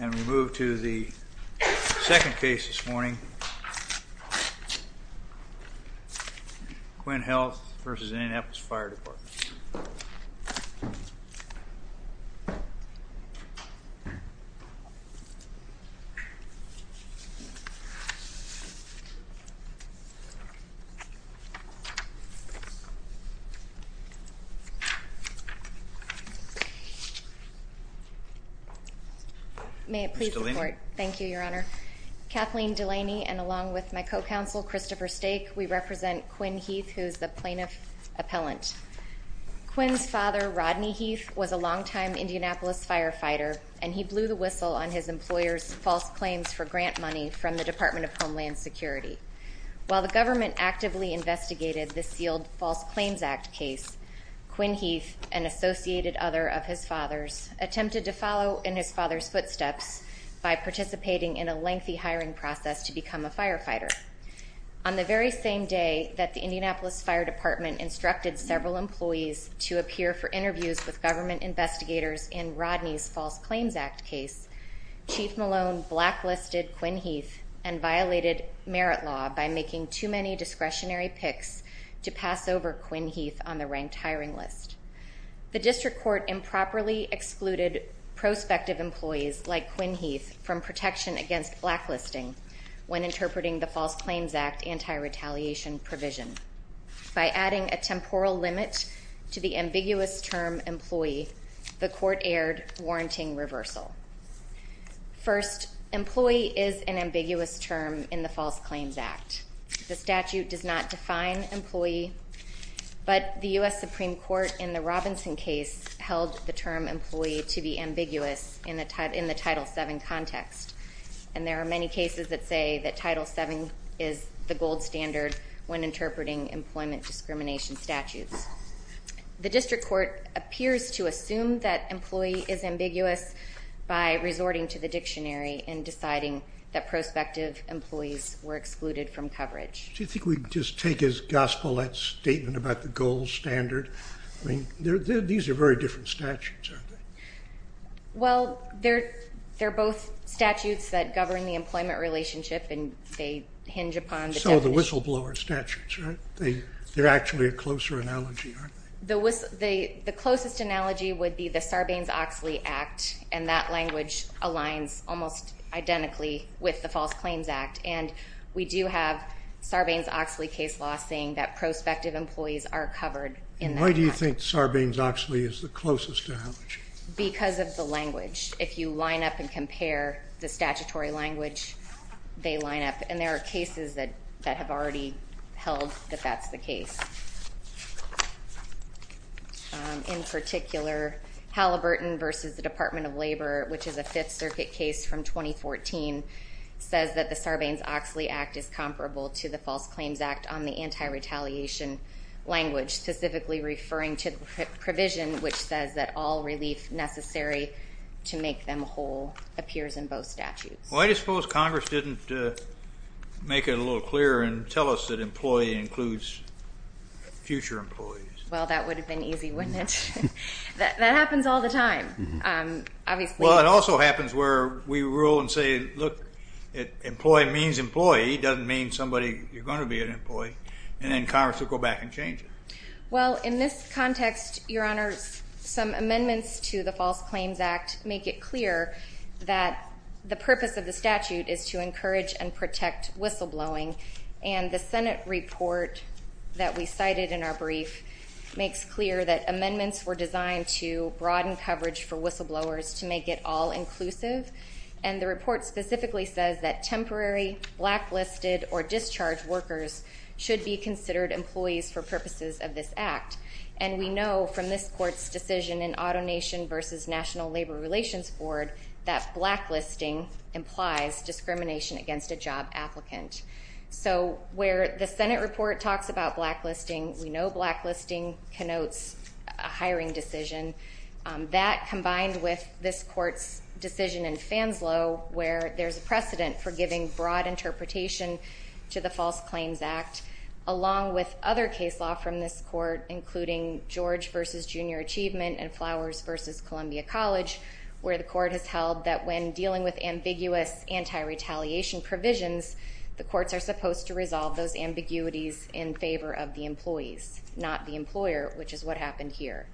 And we move to the second case this morning. Quinn Health v. Indianapolis Fire Department Kathleen Delaney On the very same day that the Indianapolis Fire Department instructed several employees to appear for interviews with government investigators in Rodney's False Claims Act case, Chief Malone blacklisted Quinn Heath and violated merit law by making too many discretionary picks to pass over Quinn Heath on the ranked hiring list. The district court improperly excluded prospective employees like Quinn Heath from protection against blacklisting when interpreting the False Claims Act anti-retaliation provision. By adding a temporal limit to the ambiguous term employee, the court aired warranting reversal. First, employee is an ambiguous term in the False Claims Act. The statute does not define employee, but the U.S. Supreme Court in the Robinson case held the term employee to be ambiguous in the Title VII context. And there are many cases that say that Title VII is the gold standard when interpreting employment discrimination statutes. The district court appears to assume that employee is ambiguous by resorting to the dictionary and deciding that prospective employees were excluded from coverage. Do you think we can just take as gospel that statement about the gold standard? I mean, these are very different statutes, aren't they? Well, they're both statutes that govern the employment relationship, and they hinge upon the definition. They're actually a closer analogy, aren't they? The closest analogy would be the Sarbanes-Oxley Act, and that language aligns almost identically with the False Claims Act. And we do have Sarbanes-Oxley case law saying that prospective employees are covered in that act. Why do you think Sarbanes-Oxley is the closest analogy? Because of the language. If you line up and compare the statutory language, they line up. And there are cases that have already held that that's the case. In particular, Halliburton v. Department of Labor, which is a Fifth Circuit case from 2014, says that the Sarbanes-Oxley Act is comparable to the False Claims Act on the anti-retaliation language, specifically referring to the provision which says that all relief necessary to make them whole appears in both statutes. Why do you suppose Congress didn't make it a little clearer and tell us that employee includes future employees? Well, that would have been easy, wouldn't it? That happens all the time, obviously. Well, it also happens where we rule and say, look, employee means employee. Employee doesn't mean somebody you're going to be an employee. And then Congress will go back and change it. Well, in this context, Your Honors, some amendments to the False Claims Act make it clear that the purpose of the statute is to encourage and protect whistleblowing. And the Senate report that we cited in our brief makes clear that amendments were designed to broaden coverage for whistleblowers to make it all-inclusive. And the report specifically says that temporary, blacklisted, or discharged workers should be considered employees for purposes of this act. And we know from this court's decision in AutoNation v. National Labor Relations Board that blacklisting implies discrimination against a job applicant. So where the Senate report talks about blacklisting, we know blacklisting connotes a hiring decision. That, combined with this court's decision in Fanslow, where there's a precedent for giving broad interpretation to the False Claims Act, along with other case law from this court, including George v. Junior Achievement and Flowers v. Columbia College, where the court has held that when dealing with ambiguous anti-retaliation provisions, the courts are supposed to resolve those ambiguities in favor of the employees, not the employer, which is what happened here.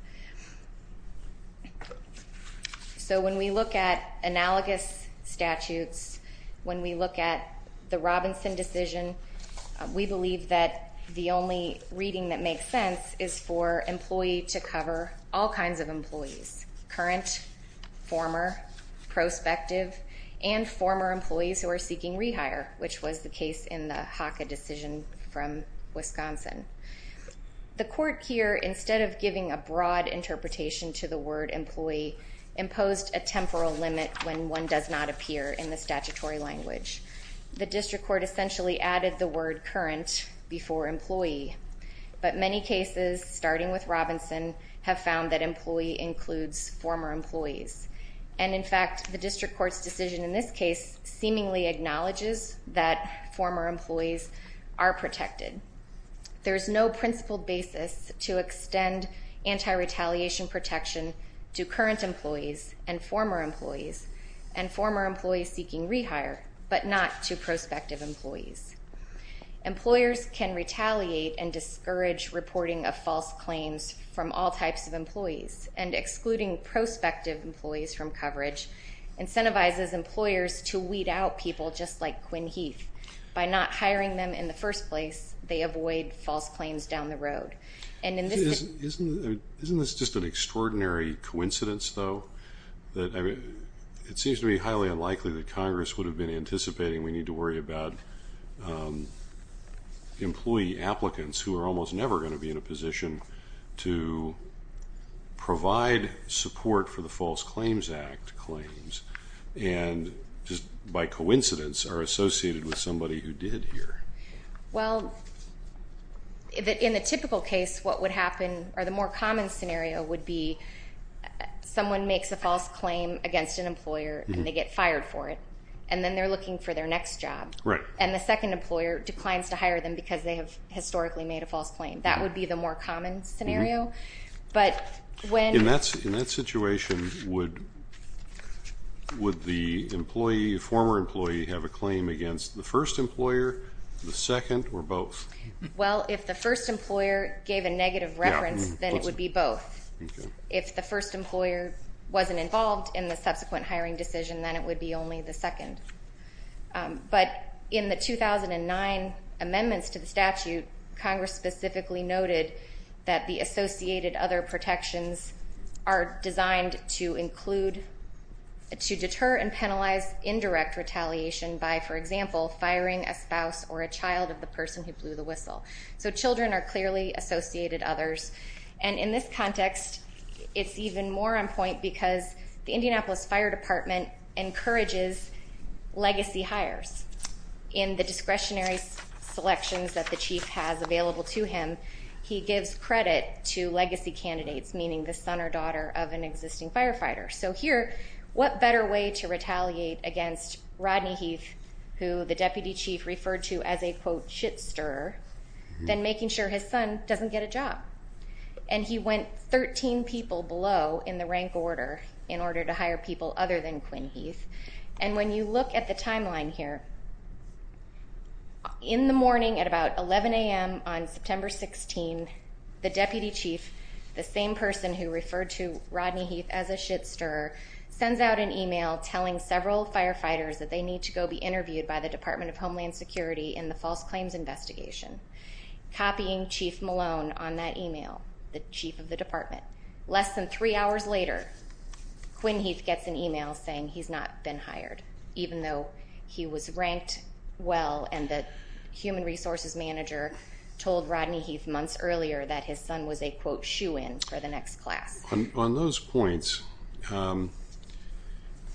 So when we look at analogous statutes, when we look at the Robinson decision, we believe that the only reading that makes sense is for employee to cover all kinds of employees— which was the case in the HACA decision from Wisconsin. The court here, instead of giving a broad interpretation to the word employee, imposed a temporal limit when one does not appear in the statutory language. The district court essentially added the word current before employee. But many cases, starting with Robinson, have found that employee includes former employees. And in fact, the district court's decision in this case seemingly acknowledges that former employees are protected. There is no principled basis to extend anti-retaliation protection to current employees and former employees, and former employees seeking rehire, but not to prospective employees. Employers can retaliate and discourage reporting of false claims from all types of employees, and excluding prospective employees from coverage incentivizes employers to weed out people just like Quinn Heath. By not hiring them in the first place, they avoid false claims down the road. Isn't this just an extraordinary coincidence, though? It seems to be highly unlikely that Congress would have been anticipating we need to worry about employee applicants who are almost never going to be in a position to provide support for the False Claims Act claims, and just by coincidence are associated with somebody who did here. Well, in a typical case, what would happen, or the more common scenario would be someone makes a false claim against an employer and they get fired for it, and then they're looking for their next job. Right. And the second employer declines to hire them because they have historically made a false claim. That would be the more common scenario. In that situation, would the former employee have a claim against the first employer, the second, or both? Well, if the first employer gave a negative reference, then it would be both. If the first employer wasn't involved in the subsequent hiring decision, then it would be only the second. But in the 2009 amendments to the statute, Congress specifically noted that the associated other protections are designed to include to deter and penalize indirect retaliation by, for example, firing a spouse or a child of the person who blew the whistle. So children are clearly associated others. And in this context, it's even more on point because the Indianapolis Fire Department encourages legacy hires. In the discretionary selections that the chief has available to him, he gives credit to legacy candidates, meaning the son or daughter of an existing firefighter. So here, what better way to retaliate against Rodney Heath, who the deputy chief referred to as a, quote, And he went 13 people below in the rank order in order to hire people other than Quinn Heath. And when you look at the timeline here, in the morning at about 11 a.m. on September 16th, the deputy chief, the same person who referred to Rodney Heath as a shit-stirrer, sends out an email telling several firefighters that they need to go be interviewed by the Department of Homeland Security in the false claims investigation, copying Chief Malone on that email, the chief of the department. Less than three hours later, Quinn Heath gets an email saying he's not been hired, even though he was ranked well and the human resources manager told Rodney Heath months earlier that his son was a, quote, shoe-in for the next class. On those points,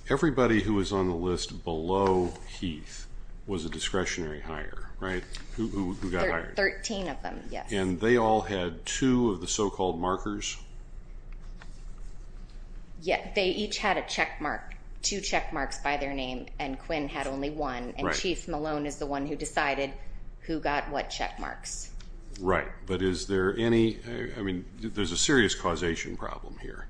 everybody who was on the list below Heath was a discretionary hire, right? Who got hired? Thirteen of them, yes. And they all had two of the so-called markers? Yeah, they each had a checkmark, two checkmarks by their name, and Quinn had only one, and Chief Malone is the one who decided who got what checkmarks. Right, but is there any, I mean, there's a serious causation problem here.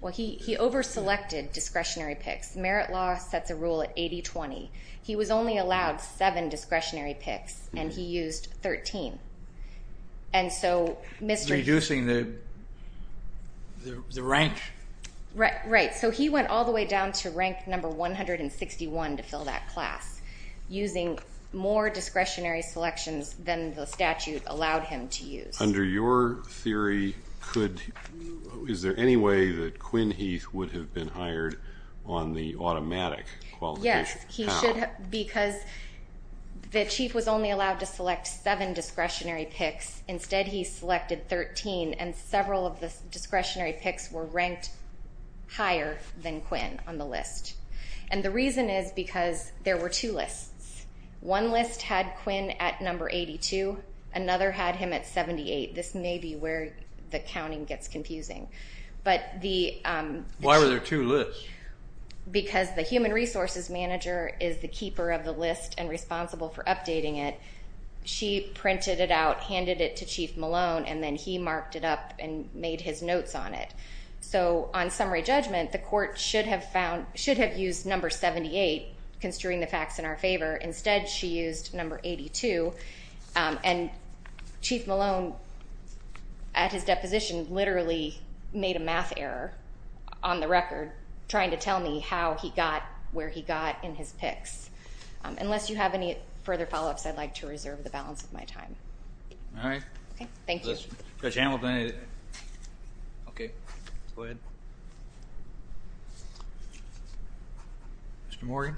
Well, he over-selected discretionary picks. Merit law sets a rule at 80-20. He was only allowed seven discretionary picks, and he used 13, and so Mr. Reducing the rank. Right, so he went all the way down to rank number 161 to fill that class, using more discretionary selections than the statute allowed him to use. Under your theory, could, is there any way that Quinn Heath would have been hired on the automatic qualification? Yes. How? Because the chief was only allowed to select seven discretionary picks. Instead, he selected 13, and several of the discretionary picks were ranked higher than Quinn on the list. And the reason is because there were two lists. One list had Quinn at number 82. Another had him at 78. This may be where the counting gets confusing. Why were there two lists? Because the human resources manager is the keeper of the list and responsible for updating it. She printed it out, handed it to Chief Malone, and then he marked it up and made his notes on it. So on summary judgment, the court should have used number 78, construing the facts in our favor. Instead, she used number 82. And Chief Malone, at his deposition, literally made a math error on the record trying to tell me how he got where he got in his picks. Unless you have any further follow-ups, I'd like to reserve the balance of my time. All right. Thank you. Judge Hamilton. Okay. Go ahead. Mr. Morgan.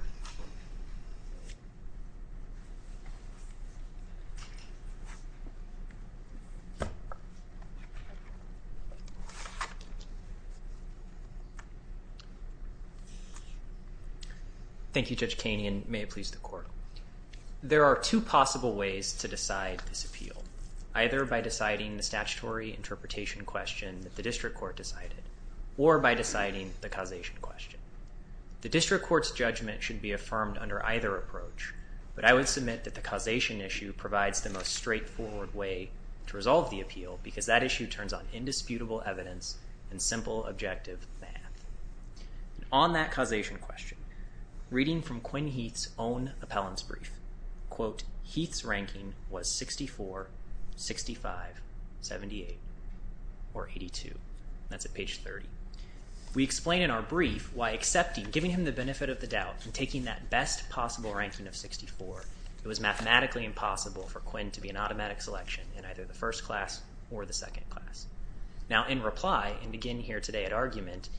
Thank you, Judge Kaney, and may it please the Court. There are two possible ways to decide this appeal, either by deciding the statutory interpretation question that the district court decided or by deciding the causation question. The district court's judgment should be affirmed under either approach, but I would submit that the causation issue provides the most straightforward way to resolve the appeal because that issue turns on indisputable evidence and simple, objective math. On that causation question, reading from Quinn Heath's own appellant's brief, Heath's ranking was 64, 65, 78, or 82. That's at page 30. We explain in our brief why accepting, giving him the benefit of the doubt, and taking that best possible ranking of 64, it was mathematically impossible for Quinn to be an automatic selection in either the first class or the second class. Now, in reply, and again here today at argument,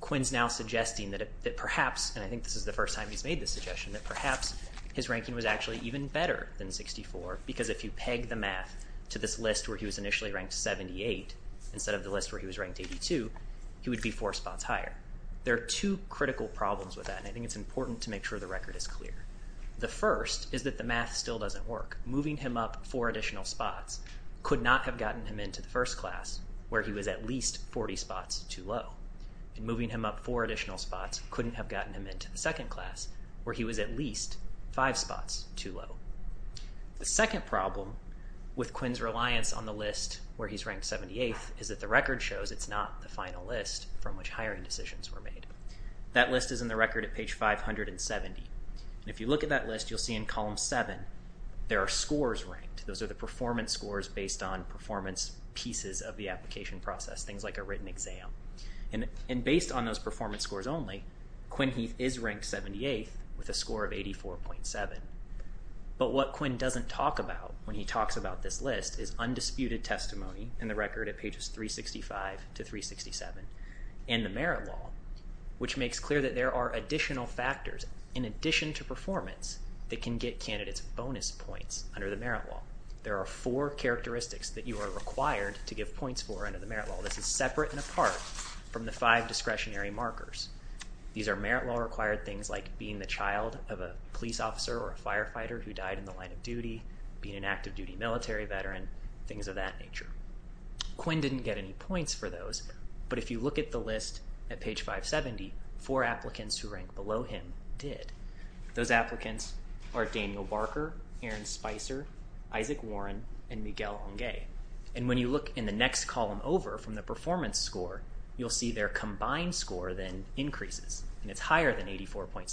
Quinn's now suggesting that perhaps, and I think this is the first time he's made this suggestion, that perhaps his ranking was actually even better than 64 because if you peg the math to this list where he was initially ranked 78 instead of the list where he was ranked 82, he would be four spots higher. There are two critical problems with that, and I think it's important to make sure the record is clear. The first is that the math still doesn't work. Moving him up four additional spots could not have gotten him into the first class where he was at least 40 spots too low. And moving him up four additional spots couldn't have gotten him into the second class where he was at least five spots too low. The second problem with Quinn's reliance on the list where he's ranked 78th is that the record shows it's not the final list from which hiring decisions were made. That list is in the record at page 570. And if you look at that list, you'll see in column seven there are scores ranked. Those are the performance scores based on performance pieces of the application process, things like a written exam. And based on those performance scores only, Quinn Heath is ranked 78th with a score of 84.7. But what Quinn doesn't talk about when he talks about this list is undisputed testimony in the record at pages 365 to 367 and the merit law, which makes clear that there are additional factors in addition to performance that can get candidates bonus points under the merit law. There are four characteristics that you are required to give points for under the merit law. This is separate and apart from the five discretionary markers. These are merit law-required things like being the child of a police officer or a firefighter who died in the line of duty, being an active duty military veteran, things of that nature. Quinn didn't get any points for those, but if you look at the list at page 570, four applicants who rank below him did. Those applicants are Daniel Barker, Aaron Spicer, Isaac Warren, and Miguel Hongay. And when you look in the next column over from the performance score, you'll see their combined score then increases, and it's higher than 84.7.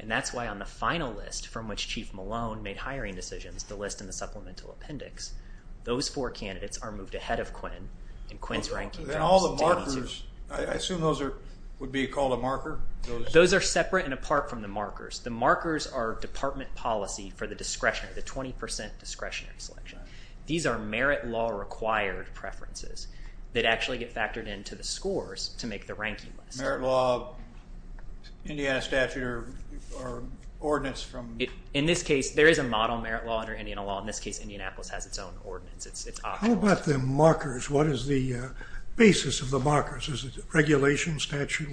And that's why on the final list from which Chief Malone made hiring decisions, the list in the supplemental appendix, those four candidates are moved ahead of Quinn in Quinn's ranking. And all the markers, I assume those would be called a marker? Those are separate and apart from the markers. The markers are department policy for the discretionary, the 20% discretionary selection. These are merit law-required preferences that actually get factored into the scores to make the ranking list. Merit law, Indiana statute, or ordinance from? In this case, there is a model merit law under Indiana law. In this case, Indianapolis has its own ordinance. How about the markers? What is the basis of the markers? Is it regulation, statute?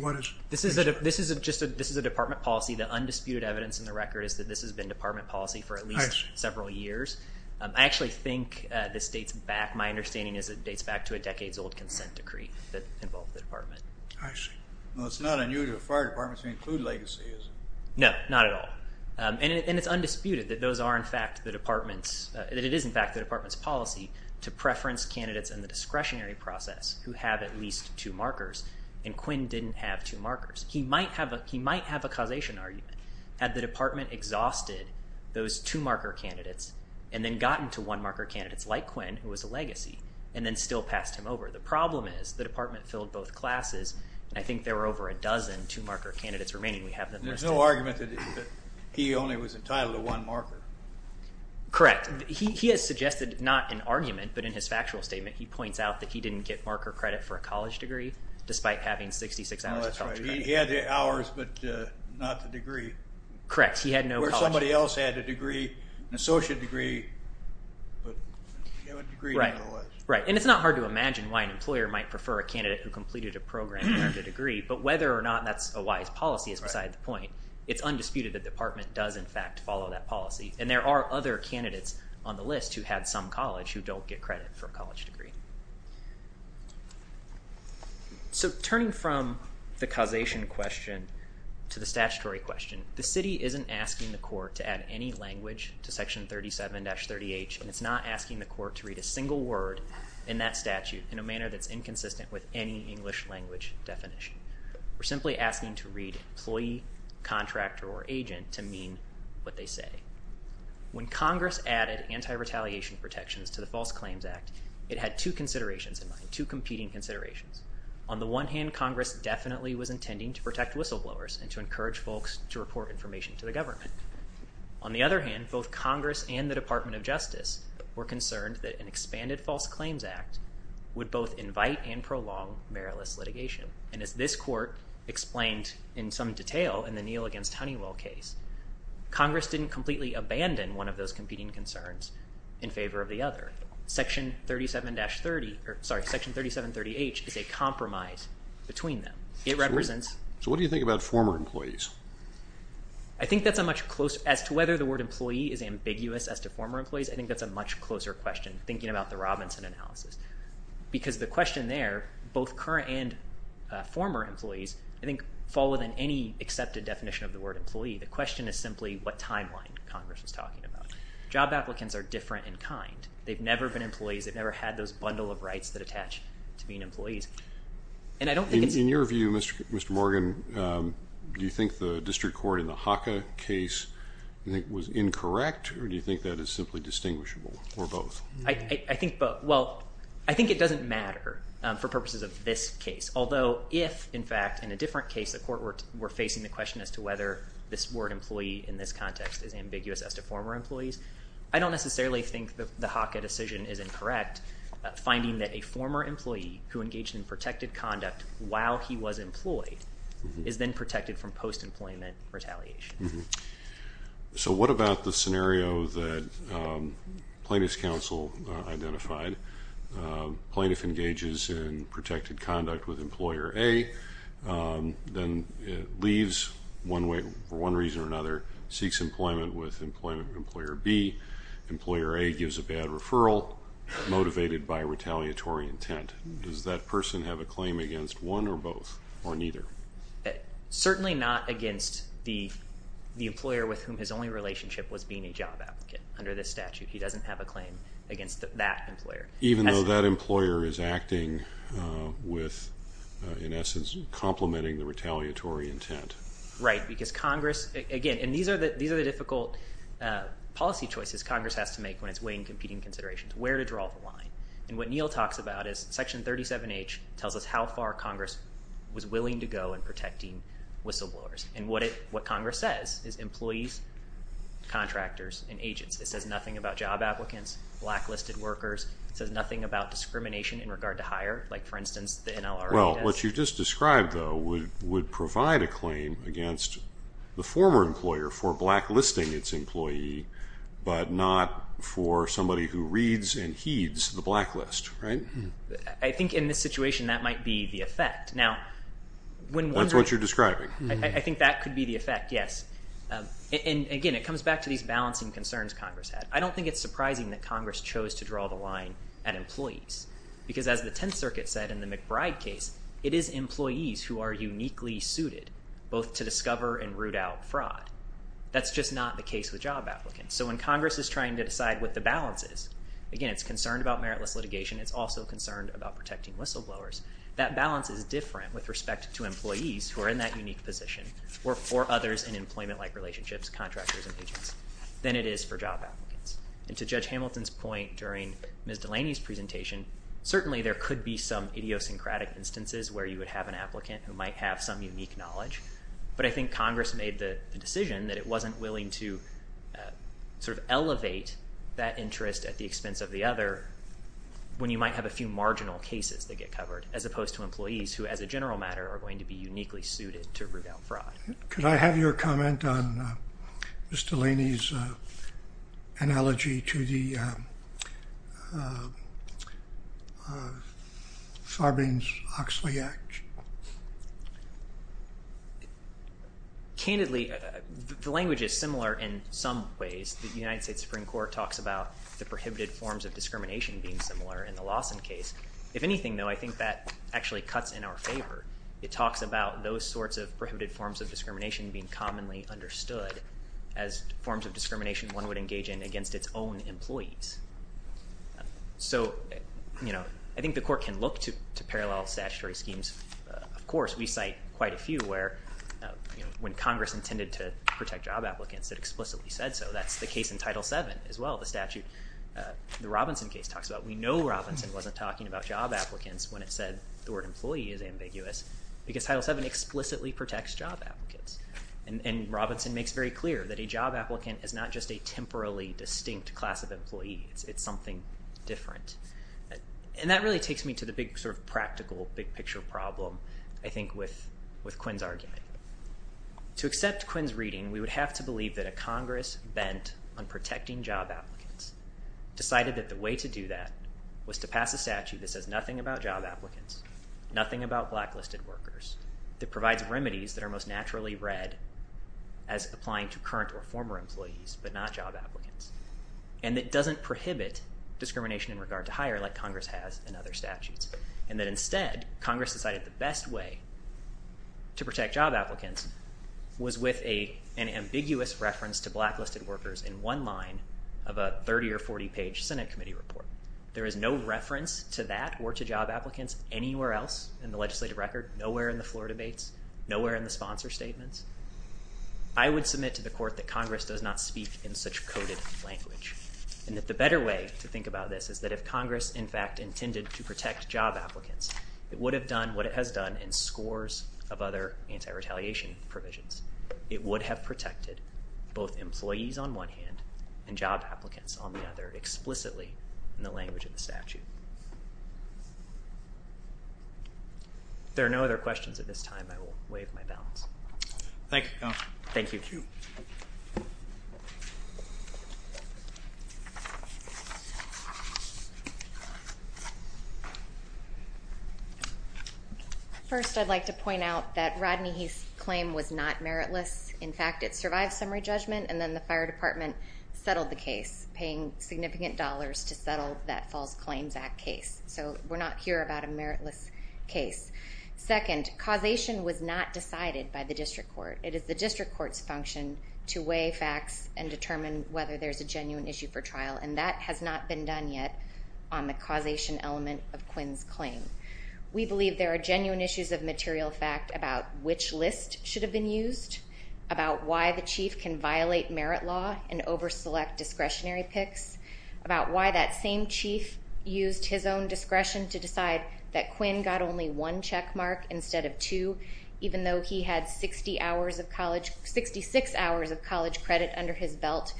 This is a department policy. The undisputed evidence in the record is that this has been department policy for at least several years. I actually think this dates back, my understanding is it dates back to a decades-old consent decree that involved the department. I see. Well, it's not a new fire department to include legacies. No, not at all. And it's undisputed that those are, in fact, the department's, that it is, in fact, the department's policy to preference candidates in the discretionary process who have at least two markers, and Quinn didn't have two markers. He might have a causation argument. Had the department exhausted those two-marker candidates and then gotten to one-marker candidates like Quinn, who was a legacy, and then still passed him over. The problem is the department filled both classes, and I think there were over a dozen two-marker candidates remaining. There's no argument that he only was entitled to one marker. Correct. He has suggested not in argument, but in his factual statement, he points out that he didn't get marker credit for a college degree despite having 66 hours of college credit. He had the hours but not the degree. Correct. He had no college. Or somebody else had a degree, an associate degree, but he didn't have a degree. Right. And it's not hard to imagine why an employer might prefer a candidate who completed a program and earned a degree, but whether or not that's a wise policy is beside the point. It's undisputed that the department does, in fact, follow that policy, and there are other candidates on the list who had some college who don't get credit for a college degree. So turning from the causation question to the statutory question, the city isn't asking the court to add any language to Section 37-38, and it's not asking the court to read a single word in that statute in a manner that's inconsistent with any English language definition. We're simply asking to read employee, contractor, or agent to mean what they say. When Congress added anti-retaliation protections to the False Claims Act, it had two considerations in mind, two competing considerations. On the one hand, Congress definitely was intending to protect whistleblowers and to encourage folks to report information to the government. On the other hand, both Congress and the Department of Justice were concerned that an expanded False Claims Act would both invite and prolong meritless litigation. And as this court explained in some detail in the Neal against Honeywell case, Congress didn't completely abandon one of those competing concerns in favor of the other. Section 37-30H is a compromise between them. So what do you think about former employees? As to whether the word employee is ambiguous as to former employees, I think that's a much closer question, thinking about the Robinson analysis. Because the question there, both current and former employees, I think fall within any accepted definition of the word employee. The question is simply what timeline Congress was talking about. Job applicants are different in kind. They've never been employees. They've never had those bundle of rights that attach to being employees. And I don't think it's... In your view, Mr. Morgan, do you think the district court in the HACA case was incorrect, or do you think that is simply distinguishable, or both? I think both. Well, I think it doesn't matter for purposes of this case. Although if, in fact, in a different case, the court were facing the question as to whether this word employee in this context is ambiguous as to former employees, I don't necessarily think the HACA decision is incorrect, finding that a former employee who engaged in protected conduct while he was employed is then protected from post-employment retaliation. So what about the scenario that plaintiff's counsel identified? Plaintiff engages in protected conduct with employer A, then leaves for one reason or another, seeks employment with employer B. Employer A gives a bad referral motivated by retaliatory intent. Does that person have a claim against one or both or neither? Certainly not against the employer with whom his only relationship was being a job applicant under this statute. He doesn't have a claim against that employer. Even though that employer is acting with, in essence, complementing the retaliatory intent. Right, because Congress, again, these are the difficult policy choices Congress has to make when it's weighing competing considerations, where to draw the line. And what Neil talks about is Section 37H tells us how far Congress was willing to go in protecting whistleblowers. And what Congress says is employees, contractors, and agents. It says nothing about job applicants, blacklisted workers. It says nothing about discrimination in regard to hire, like, for instance, the NLRB does. Well, what you just described, though, would provide a claim against the former employer for blacklisting its employee, but not for somebody who reads and heeds the blacklist, right? I think in this situation that might be the effect. That's what you're describing? I think that could be the effect, yes. And, again, it comes back to these balancing concerns Congress had. I don't think it's surprising that Congress chose to draw the line at employees because, as the Tenth Circuit said in the McBride case, it is employees who are uniquely suited both to discover and root out fraud. That's just not the case with job applicants. So when Congress is trying to decide what the balance is, again, it's concerned about meritless litigation. It's also concerned about protecting whistleblowers. That balance is different with respect to employees who are in that unique position or for others in employment-like relationships, contractors, and agents, than it is for job applicants. And to Judge Hamilton's point during Ms. Delaney's presentation, certainly there could be some idiosyncratic instances where you would have an applicant who might have some unique knowledge, but I think Congress made the decision that it wasn't willing to sort of elevate that interest at the expense of the other when you might have a few marginal cases that get covered, as opposed to employees who, as a general matter, are going to be uniquely suited to root out fraud. Could I have your comment on Ms. Delaney's analogy to the Farbins-Oxley Act? Candidly, the language is similar in some ways. The United States Supreme Court talks about the prohibited forms of discrimination being similar in the Lawson case. If anything, though, I think that actually cuts in our favor. It talks about those sorts of prohibited forms of discrimination being commonly understood as forms of discrimination one would engage in against its own employees. So, you know, I think the Court can look to parallel statutory schemes. Of course, we cite quite a few where, you know, when Congress intended to protect job applicants, it explicitly said so. That's the case in Title VII as well, the statute. The Robinson case talks about it. We know Robinson wasn't talking about job applicants when it said the word employee is ambiguous because Title VII explicitly protects job applicants. And Robinson makes very clear that a job applicant is not just a temporally distinct class of employee. It's something different. And that really takes me to the big sort of practical big picture problem, I think, with Quinn's argument. To accept Quinn's reading, we would have to believe that a Congress bent on protecting job applicants decided that the way to do that was to pass a statute that says nothing about job applicants, nothing about blacklisted workers, that provides remedies that are most naturally read as applying to current or former employees but not job applicants, and that doesn't prohibit discrimination in regard to hire like Congress has in other statutes, and that instead Congress decided the best way to protect job applicants was with an ambiguous reference to blacklisted workers in one line of a 30- or 40-page Senate committee report. There is no reference to that or to job applicants anywhere else in the legislative record, nowhere in the floor debates, nowhere in the sponsor statements. I would submit to the Court that Congress does not speak in such coded language and that the better way to think about this is that if Congress, in fact, intended to protect job applicants, it would have done what it has done in scores of other anti-retaliation provisions. It would have protected both employees on one hand and job applicants on the other explicitly in the language of the statute. If there are no other questions at this time, I will waive my balance. Thank you, Counselor. Thank you. First, I'd like to point out that Rodney Heath's claim was not meritless. In fact, it survived summary judgment and then the Fire Department settled the case, paying significant dollars to settle that False Claims Act case. So we're not here about a meritless case. Second, causation was not decided by the District Court. It is the District Court's function to weigh facts and determine whether there's a genuine issue for trial, and that has not been done yet on the causation element of Quinn's claim. We believe there are genuine issues of material fact about which list should have been used, about why the Chief can violate merit law and over-select discretionary picks, about why that same Chief used his own discretion to decide that Quinn got only one checkmark instead of two, even though he had 66 hours of college credit under his belt,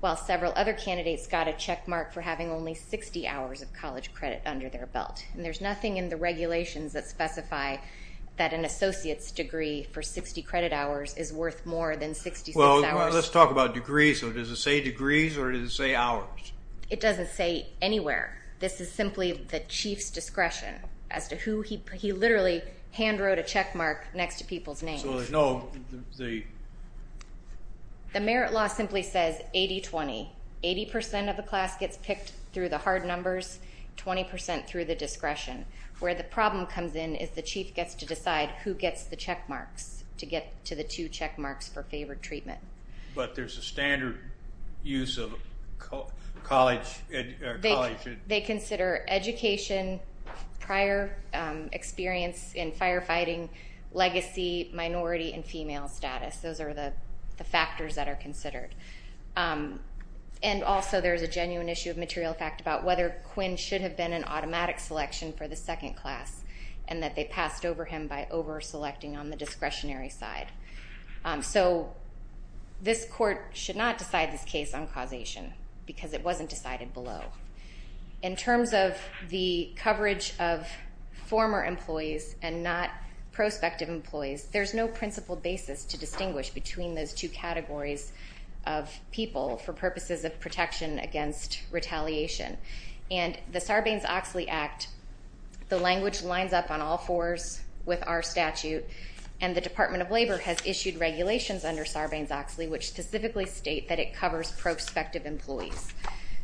while several other candidates got a checkmark for having only 60 hours of college credit under their belt. And there's nothing in the regulations that specify that an associate's degree for 60 credit hours is worth more than 66 hours. Well, let's talk about degrees. Does it say degrees or does it say hours? It doesn't say anywhere. This is simply the Chief's discretion as to who he literally hand-wrote a checkmark next to people's names. So there's no... The merit law simply says 80-20. Eighty percent of the class gets picked through the hard numbers, 20 percent through the discretion. Where the problem comes in is the Chief gets to decide who gets the checkmarks to get to the two checkmarks for favored treatment. But there's a standard use of college... They consider education, prior experience in firefighting, legacy, minority, and female status. Those are the factors that are considered. And also there's a genuine issue of material fact about whether Quinn should have been an automatic selection for the second class and that they passed over him by over-selecting on the discretionary side. So this court should not decide this case on causation because it wasn't decided below. In terms of the coverage of former employees and not prospective employees, there's no principled basis to distinguish between those two categories of people for purposes of protection against retaliation. And the Sarbanes-Oxley Act, the language lines up on all fours with our statute, and the Department of Labor has issued regulations under Sarbanes-Oxley which specifically state that it covers prospective employees.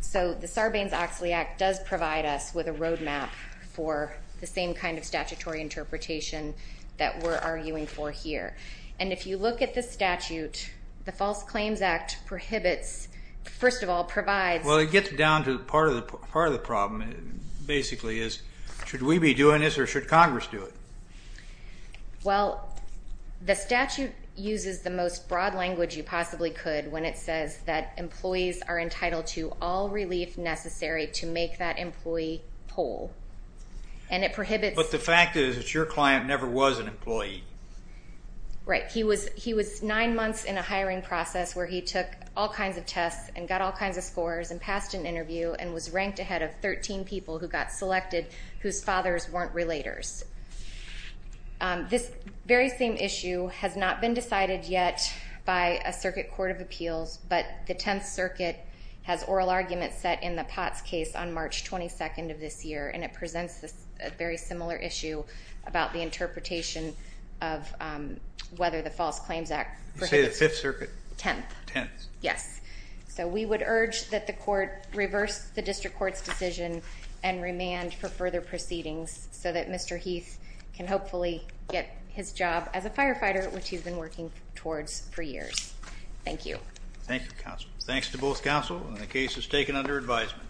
So the Sarbanes-Oxley Act does provide us with a roadmap for the same kind of statutory interpretation that we're arguing for here. And if you look at the statute, the False Claims Act prohibits, first of all, provides. Well, it gets down to part of the problem, basically, is should we be doing this or should Congress do it? Well, the statute uses the most broad language you possibly could when it says that employees are entitled to all relief necessary to make that employee whole. But the fact is that your client never was an employee. Right. He was nine months in a hiring process where he took all kinds of tests and got all kinds of scores and passed an interview and was ranked ahead of 13 people who got selected whose fathers weren't relators. This very same issue has not been decided yet by a circuit court of appeals, but the Tenth Circuit has oral arguments set in the Potts case on March 22nd of this year, and it presents a very similar issue about the interpretation of whether the False Claims Act prohibits. You say the Fifth Circuit? Tenth. Tenth. Yes. So we would urge that the court reverse the district court's decision and remand for further proceedings so that Mr. Heath can hopefully get his job as a firefighter, which he's been working towards for years. Thank you. Thank you, counsel. Thanks to both counsel, and the case is taken under advisement.